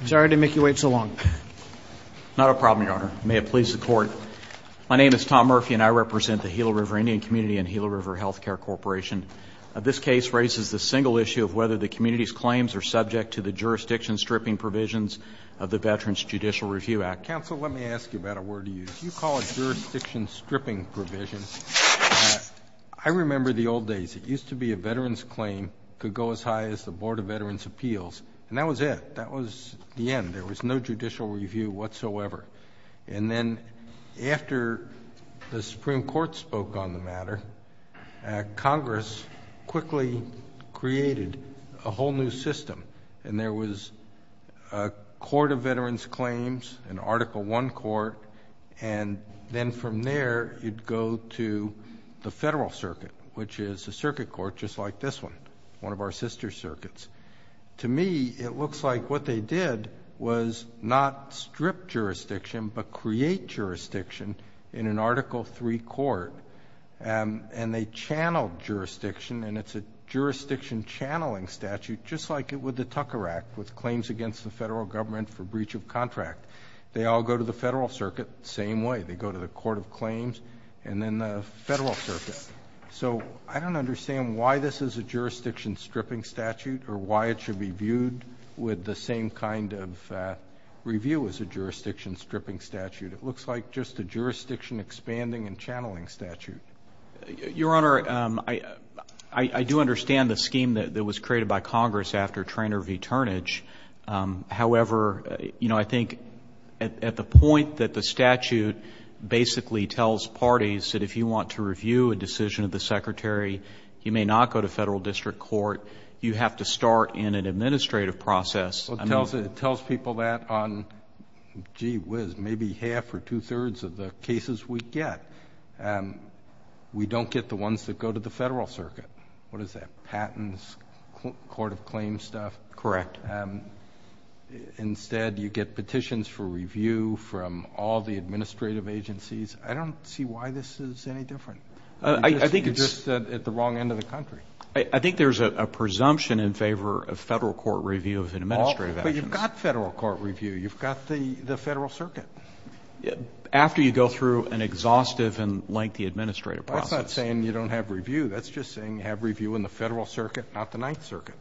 I'm sorry to make you wait so long. Not a problem, Your Honor. May it please the Court. My name is Tom Murphy and I represent the Gila River Indian Community and Gila River Health Care Corporation. This case raises the single issue of whether the community's claims are subject to the jurisdiction stripping provisions of the Veterans Judicial Review Act. Counsel, let me ask you about a word of use. You call it jurisdiction stripping provision. I remember the old days. It used to be a veteran's claim could go as high as the Board of Justice. It was the end. There was no judicial review whatsoever. And then after the Supreme Court spoke on the matter, Congress quickly created a whole new system. And there was a Court of Veterans Claims, an Article 1 Court, and then from there you'd go to the Federal Circuit, which is a circuit court just like this one, one of our sister circuits. To me, it looks like what they did was not strip jurisdiction but create jurisdiction in an Article 3 Court. And they channeled jurisdiction and it's a jurisdiction channeling statute just like it would the Tucker Act with claims against the federal government for breach of contract. They all go to the Federal Circuit, same way. They go to the Court of Claims and then the Federal Circuit. So I don't understand why this is a jurisdiction stripping statute or why it should be viewed with the same kind of review as a jurisdiction stripping statute. It looks like just a jurisdiction expanding and channeling statute. Your Honor, I do understand the scheme that was created by Congress after Traynor v. Turnage. However, you know, I think at the point that the statute basically tells parties that if you want to review a decision of the Secretary, you may not go to federal district court. You have to start in an administrative process. It tells people that on, gee whiz, maybe half or two-thirds of the cases we get, we don't get the ones that go to the Federal Circuit. What is that? Patents, Court of Claims stuff? Correct. Instead, you get petitions for review from all the administrative agencies. I don't see why this is any different. I think it's just at the wrong end of the country. I think there's a presumption in favor of federal court review of an administrative action. But you've got federal court review. You've got the Federal Circuit. After you go through an exhaustive and lengthy administrative process. That's not saying you don't have review. That's just saying you have review in the Federal Circuit, not the Ninth Circuit.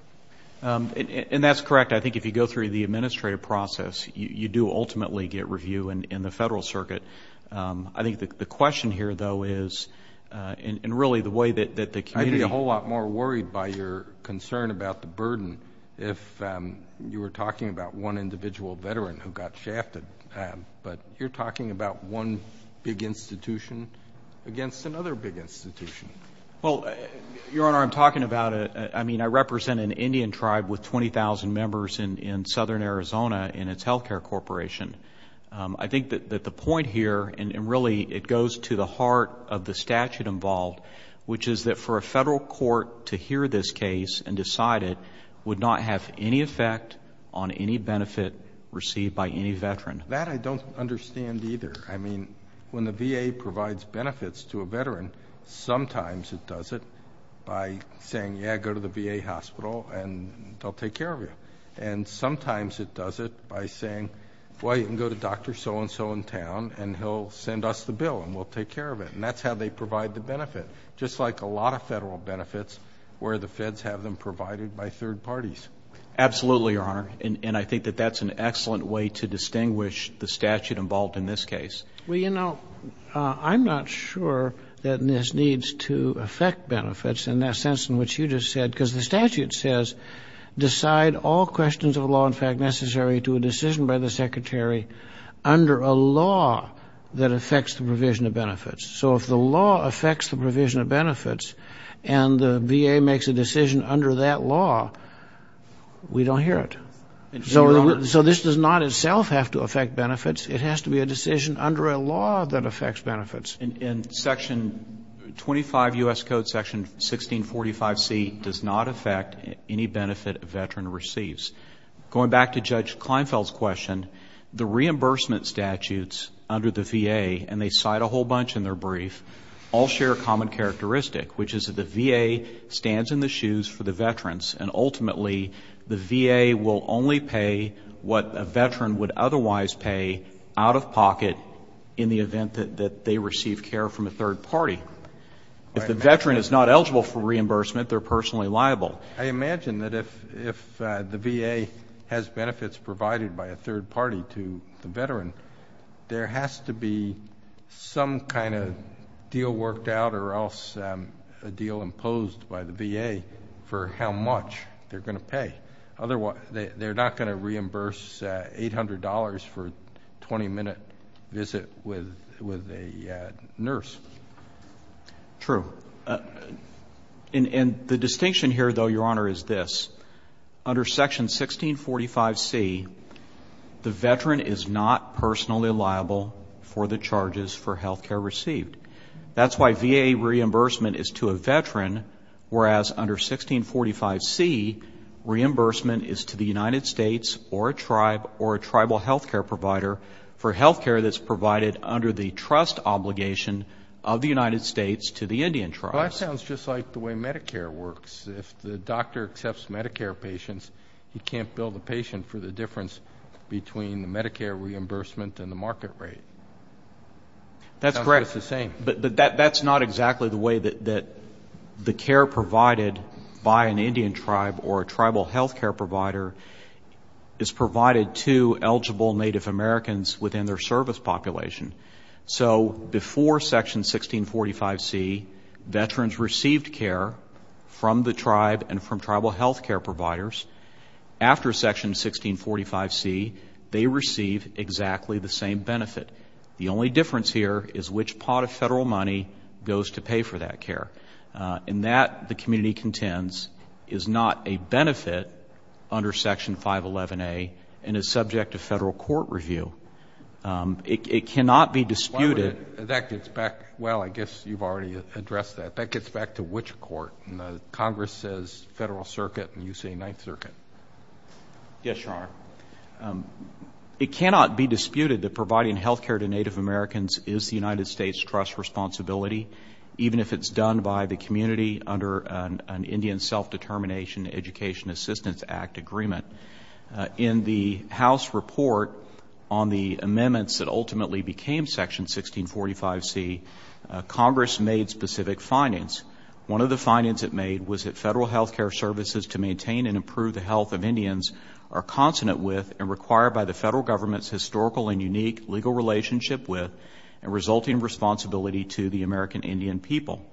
And that's correct. I think if you go through the administrative process, you do ultimately get review in the Federal Circuit. I think the question here, though, is in really the way that the community... I'd be a whole lot more worried by your concern about the burden if you were talking about one individual veteran who got shafted. But you're talking about one big institution against another big institution. Well, Your Honor, I'm talking about... I mean, I represent an Indian tribe with 20,000 members in southern Arizona in its health care corporation. I think that the point here, and really it goes to the heart of the statute involved, which is that for a federal court to hear this case and decide it would not have any effect on any benefit received by any veteran. That I don't understand either. I mean, when the VA provides benefits to a veteran, sometimes it does it by saying, yeah, go to the VA hospital and they'll take care of you. And sometimes it does it by saying, well, you can go to Dr. So-and-so in town and he'll send us the bill and we'll take care of it. And that's how they provide the benefit. Just like a lot of federal benefits where the feds have them provided by third parties. Absolutely, Your Honor. And I think that that's an excellent way to distinguish the statute involved in this case. Well, you know, I'm not sure that this needs to affect benefits in that sense in which you just said. Because the statute says, decide all questions of law and the secretary under a law that affects the provision of benefits. So if the law affects the provision of benefits and the VA makes a decision under that law, we don't hear it. So this does not itself have to affect benefits. It has to be a decision under a law that affects benefits. And Section 25 U.S. Code Section 1645C does not affect any benefit a veteran receives. Going back to Judge Kleinfeld's question, the reimbursement statutes under the VA, and they cite a whole bunch in their brief, all share a common characteristic, which is that the VA stands in the shoes for the veterans. And ultimately, the VA will only pay what a veteran would otherwise pay out of pocket in the event that they receive care from a third party. If the veteran is not eligible for reimbursement, they're personally liable. I imagine that if the VA has benefits provided by a third party to the veteran, there has to be some kind of deal worked out or else a deal imposed by the VA for how much they're going to pay. Otherwise, they're not going to reimburse $800 for a 20-minute visit with a nurse. True. And the distinction here, though, Your Honor, is this. Under Section 1645C, the veteran is not personally liable for the charges for health care received. That's why VA reimbursement is to a veteran, whereas under 1645C, reimbursement is to the United States or a tribe or a tribal health care provider for health care that's provided under the trust obligation of the United States to the Indian tribes. Well, that sounds just like the way Medicare works. If the doctor accepts Medicare patients, he can't bill the patient for the difference between the Medicare reimbursement and the market rate. That's correct. It sounds just the same. But that's not exactly the way that the care provided by an Indian tribe or a tribal health care provider is provided to eligible Native Americans within their service population. So before Section 1645C, veterans received care from the tribe and from tribal health care providers. After Section 1645C, they receive exactly the same benefit. The only difference here is which pot of federal money goes to pay for that care. And that, the community contends, is not a benefit under Section 511A and is subject to federal court review. It cannot be disputed Well, I guess you've already addressed that. That gets back to which court? Congress says Federal Circuit and you say Ninth Circuit. Yes, Your Honor. It cannot be disputed that providing health care to Native Americans is the United States' trust responsibility, even if it's done by the In the House report on the amendments that ultimately became Section 1645C, Congress made specific findings. One of the findings it made was that federal health care services to maintain and improve the health of Indians are consonant with and required by the federal government's historical and unique legal relationship with and resulting responsibility to the American Indian people.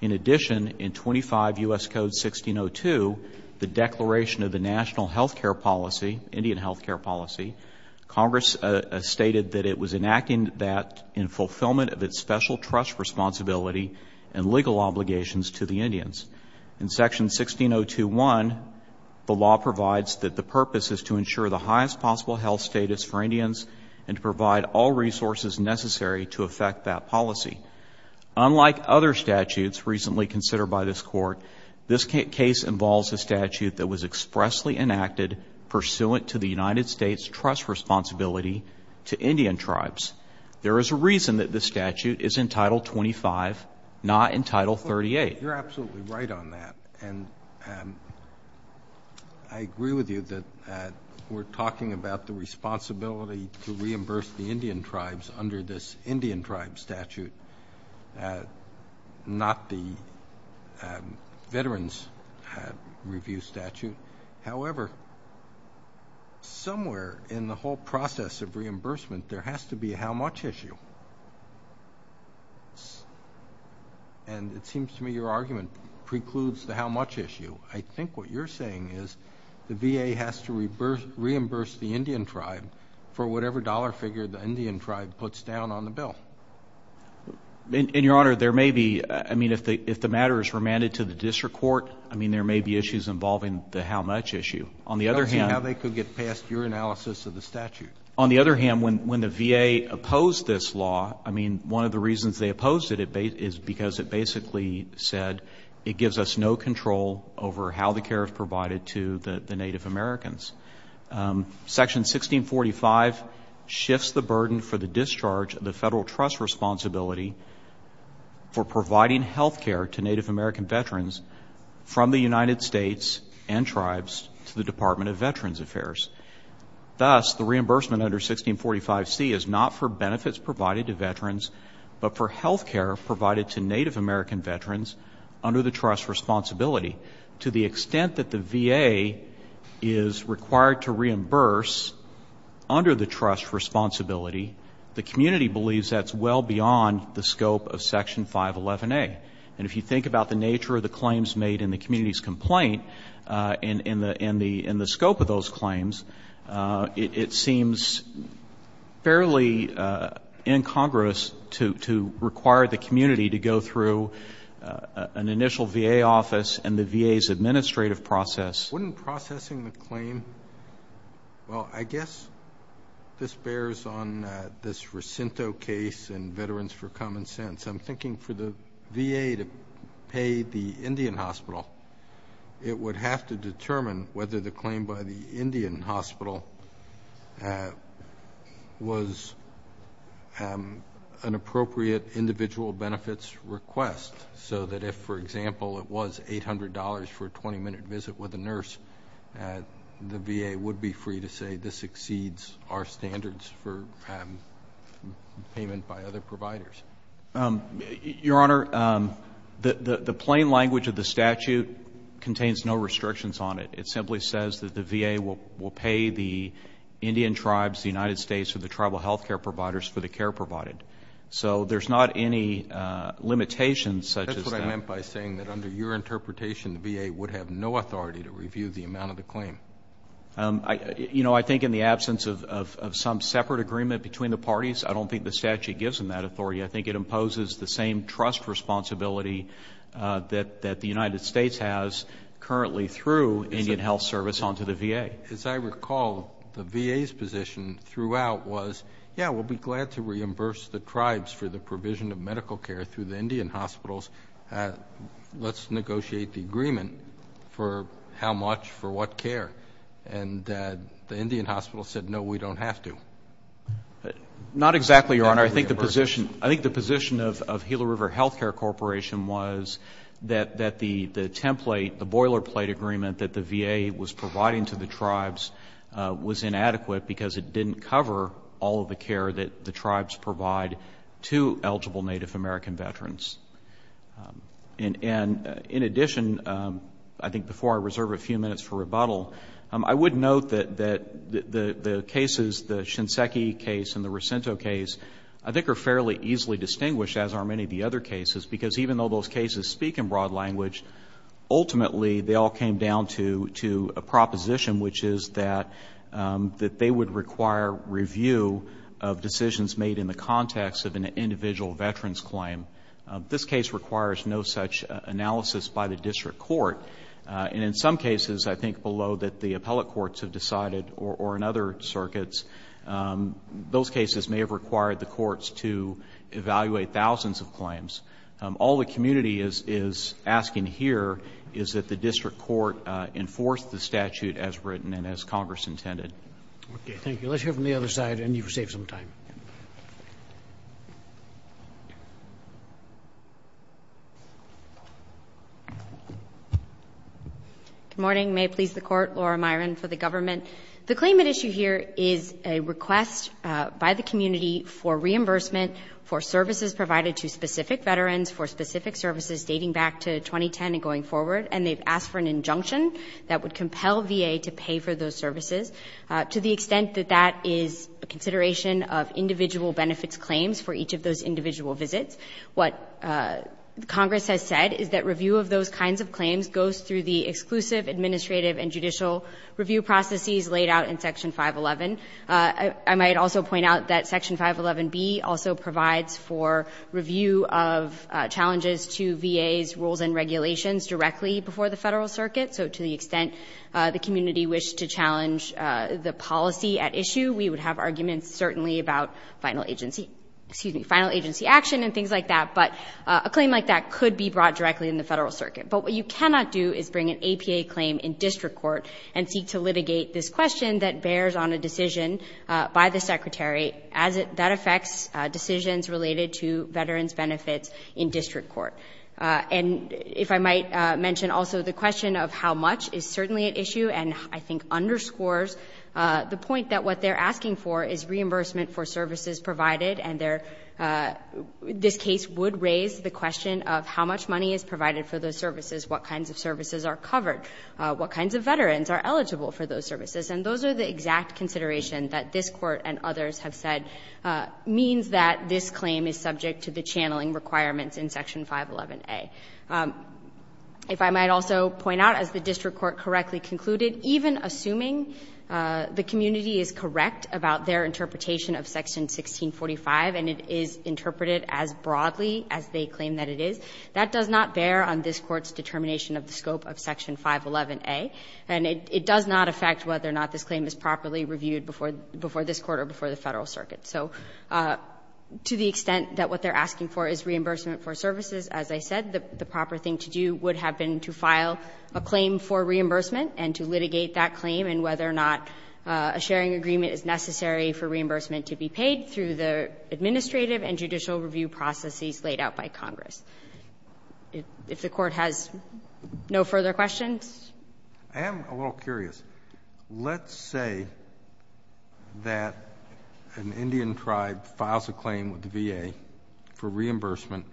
In addition, in 25 U.S. Code 1602, the Declaration of the National Health Care Policy, Indian health care policy, Congress stated that it was enacting that in fulfillment of its special trust responsibility and legal obligations to the Indians. In Section 16021, the law provides that the purpose is to ensure the highest possible health status for Indians and to provide all other statutes recently considered by this Court. This case involves a statute that was expressly enacted pursuant to the United States' trust responsibility to Indian tribes. There is a reason that this statute is in Title 25, not in Title 38. Well, you're absolutely right on that. And I agree with you that we're talking about the responsibility to reimburse the Indian tribes under this Indian tribe statute, not the veterans review statute. However, somewhere in the whole process of reimbursement, there has to be a how much issue. And it seems to me your argument precludes the how much issue. I think what you're saying is the VA has to reimburse the Indian tribe for whatever dollar figure the Indian tribe puts down on the bill. And, Your Honor, there may be, I mean, if the matter is remanded to the district court, I mean, there may be issues involving the how much issue. On the other hand I don't see how they could get past your analysis of the statute. On the other hand, when the VA opposed this law, I mean, one of the reasons they opposed it is because it basically said it gives us no control over how the care is provided to the Native Americans. Section 1645 shifts the burden for the discharge of the federal trust responsibility for providing health care to Native American veterans from the United States and tribes to the Department of Veterans Affairs. Thus, the reimbursement under 1645C is not for benefits provided to veterans but for health care provided to Native American veterans under the trust responsibility. To the extent that the VA is required to reimburse under the trust responsibility, the community believes that's well beyond the scope of Section 511A. And if you think about the nature of the claims made in the community's complaint and the scope of those claims, it seems fairly incongruous to require the community to go through an initial VA office and the VA's administrative process. Wouldn't processing the claim, well, I guess this bears on this Racinto case and Veterans for Common Sense. I'm thinking for the VA to pay the Indian Hospital, it would have to determine whether the claim by the Indian Hospital was an appropriate individual benefits request. So that if, for example, it was $800 for a 20-minute visit with a nurse, the VA would be free to say this exceeds our standards for payment by other providers. Your Honor, the plain language of the statute contains no restrictions on it. It simply says that the VA will pay the Indian tribes, the United States, or the tribal health care providers for the care provided. So there's not any limitations such as that. I'm just going to comment by saying that under your interpretation, the VA would have no authority to review the amount of the claim. You know, I think in the absence of some separate agreement between the parties, I don't think the statute gives them that authority. I think it imposes the same trust responsibility that the United States has currently through Indian Health Service onto the VA. As I recall, the VA's position throughout was, yeah, we'll be glad to reimburse the tribes for the provision of medical care through the Indian hospitals. Let's negotiate the agreement for how much, for what care. And the Indian hospital said, no, we don't have to. Not exactly, Your Honor. I think the position of Gila River Health Care Corporation was that the template, the boilerplate agreement that the VA was providing to the eligible Native American veterans. And in addition, I think before I reserve a few minutes for rebuttal, I would note that the cases, the Shinseki case and the Racinto case, I think are fairly easily distinguished, as are many of the other cases, because even though those cases speak in broad language, ultimately they all came down to a proposition, which is that they would require review of decisions made in the context of an individual veteran's claim. This case requires no such analysis by the district court. And in some cases, I think below that the appellate courts have decided, or in other circuits, those cases may have required the courts to evaluate thousands of claims. All the community is asking here is that the district court enforce the statute as written and as Congress intended. Okay. Thank you. Let's hear from the other side, and you've saved some time. Good morning. May it please the Court. Laura Myron for the government. The claim at issue here is a request by the community for reimbursement for services provided to specific veterans for specific services dating back to 2010 and going forward. And they've asked for an injunction that would compel VA to pay for those services. To the extent that that is a consideration of individual benefits claims for each of those individual visits, what Congress has said is that review of those kinds of claims goes through the exclusive administrative and judicial review processes laid out in Section 511. I might also point out that Section 511B also provides for review of challenges to VA's rules and regulations directly before the Federal Circuit. So to the extent the community wished to challenge the policy at issue, we would have arguments certainly about final agency action and things like that. But a claim like that could be brought directly in the Federal Circuit. But what you cannot do is bring an APA claim in district court and seek to litigate this question that bears on a decision by the Secretary as that affects decisions related to veterans' benefits in district court. And if I might mention also the question of how much is certainly at issue, and I think underscores the point that what they're asking for is reimbursement for services provided. And this case would raise the question of how much money is provided for those services, what kinds of services are covered, what kinds of veterans are eligible for those services. And those are the exact considerations that this Court and others have said means that this claim is subject to the channeling requirements in Section 511A. If I might also point out, as the district court correctly concluded, even assuming the community is correct about their interpretation of Section 1645 and it is interpreted as broadly as they claim that it is, that does not bear on this Court's determination of the scope of Section 511A. And it does not affect whether or not this claim is properly reviewed before this Court or before the Federal Circuit. So to the extent that what they're asking for is reimbursement for services, as I said, the proper thing to do would have been to file a claim for reimbursement and to litigate that claim and whether or not a sharing agreement is necessary for reimbursement to be paid through the administrative and judicial review processes laid out by Congress. If the Court has no further questions? I am a little curious. Let's say that an Indian tribe files a claim with the VA for reimbursement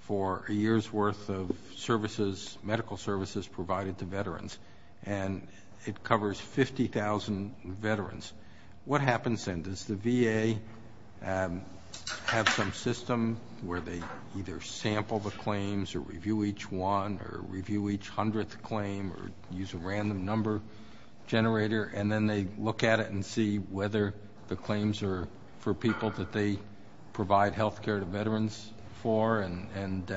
for a year's worth of services, medical services provided to veterans and it covers 50,000 veterans. What happens then? Does the VA have some system where they either sample the claims or review each one or review each hundredth claim or use a random number generator and then they look at it and see whether the claims are for people that they provide health care to veterans for and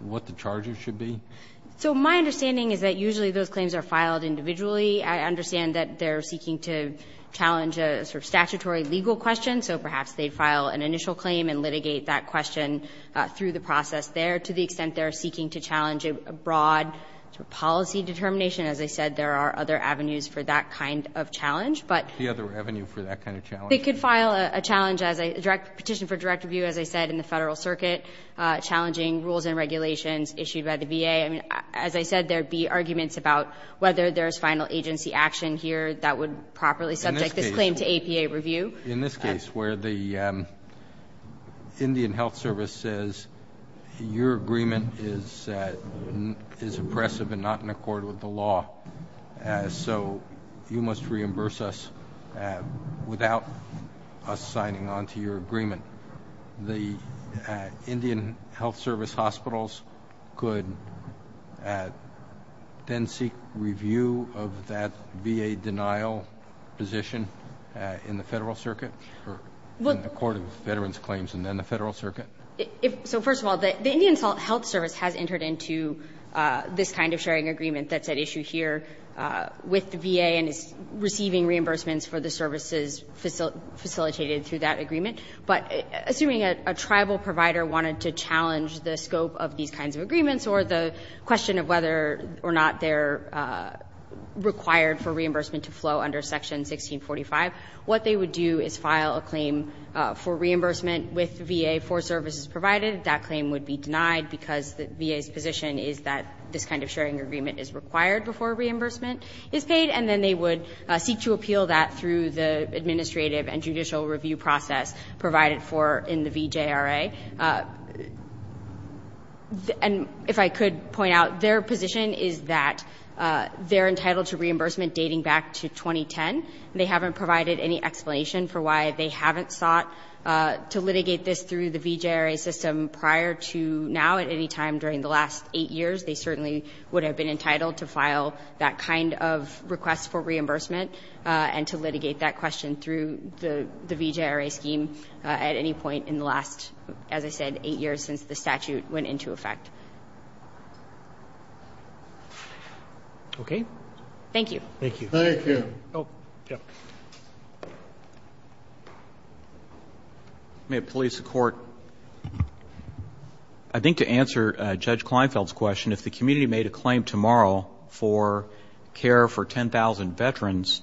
what the charges should be? So my understanding is that usually those claims are filed individually. I understand that they're seeking to challenge a sort of statutory legal question, so perhaps they'd file an initial claim and litigate that question through the process there to the extent they're seeking to challenge a broad policy determination. As I said, there are other avenues for that kind of challenge. The other avenue for that kind of challenge? They could file a challenge, a petition for direct review, as I said, in the Federal Circuit challenging rules and regulations issued by the VA. As I said, there would be arguments about whether there's final agency action here that would properly subject this claim to APA review. In this case where the Indian Health Service says, your agreement is oppressive and not in accord with the law, so you must reimburse us without us signing on to your agreement, the Indian Health Service hospitals could then seek review of that VA denial position in the Federal Circuit in accordance with veterans' claims and then the Federal Circuit. So first of all, the Indian Health Service has entered into this kind of sharing agreement that's at issue here with the VA and is receiving reimbursements for the services facilitated through that agreement, but assuming a tribal provider wanted to challenge the scope of these kinds of agreements or the question of whether or not they're required for reimbursement to flow under Section 1645, what they would do is file a claim for reimbursement with VA for services provided. That claim would be denied because the VA's position is that this kind of sharing agreement is required before reimbursement is paid, and then they would seek to appeal that through the administrative and judicial review process provided for in the VJRA. And if I could point out, their position is that they're entitled to reimbursement dating back to 2010, and they haven't provided any explanation for why they haven't sought to litigate this through the VJRA system prior to now at any time during the last eight years. They certainly would have been entitled to file that kind of request for reimbursement and to litigate that question through the VJRA scheme at any point in the last, as I said, eight years since the statute went into effect. Okay? Thank you. Thank you. Thank you. May it please the Court, I think to answer Judge Kleinfeld's question, if the community made a claim tomorrow for care for 10,000 veterans,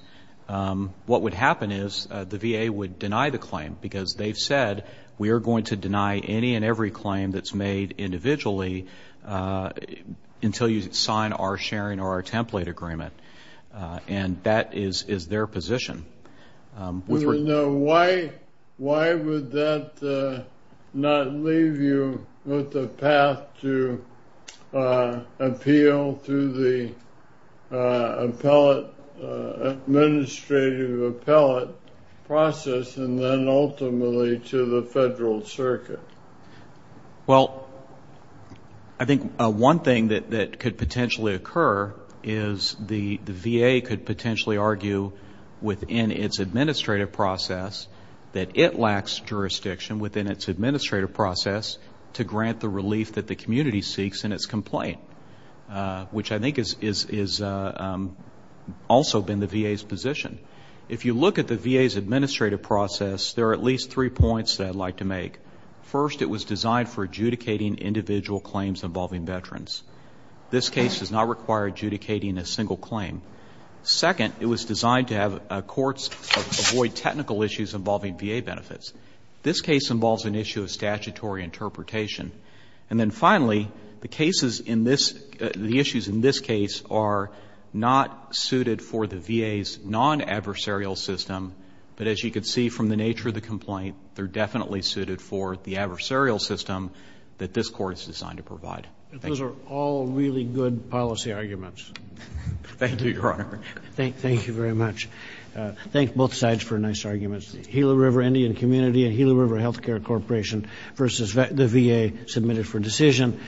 what would happen is the VA would deny the claim because they've said, we are going to deny any and every claim that's made individually until you sign our sharing or our template agreement, and that is their position. Why would that not leave you with a path to appeal through the appellate, administrative appellate process and then ultimately to the federal circuit? Well, I think one thing that could potentially occur is the VA could potentially argue within its administrative process that it lacks jurisdiction within its administrative process to grant the relief that the community seeks in its complaint, which has also been the VA's position. If you look at the VA's administrative process, there are at least three points that I'd like to make. First, it was designed for adjudicating individual claims involving veterans. This case does not require adjudicating a single claim. Second, it was designed to have courts avoid technical issues involving VA benefits. This case involves an issue of statutory interpretation. And then finally, the cases in this, the issues in this case are not suited for the VA's non-adversarial system, but as you could see from the nature of the complaint, they're definitely suited for the adversarial system that this Court is designed to provide. Those are all really good policy arguments. Thank you, Your Honor. Thank you very much. Thank both sides for nice arguments. The Gila River Indian Community and Gila River Healthcare Corporation versus the VA submitted for decision.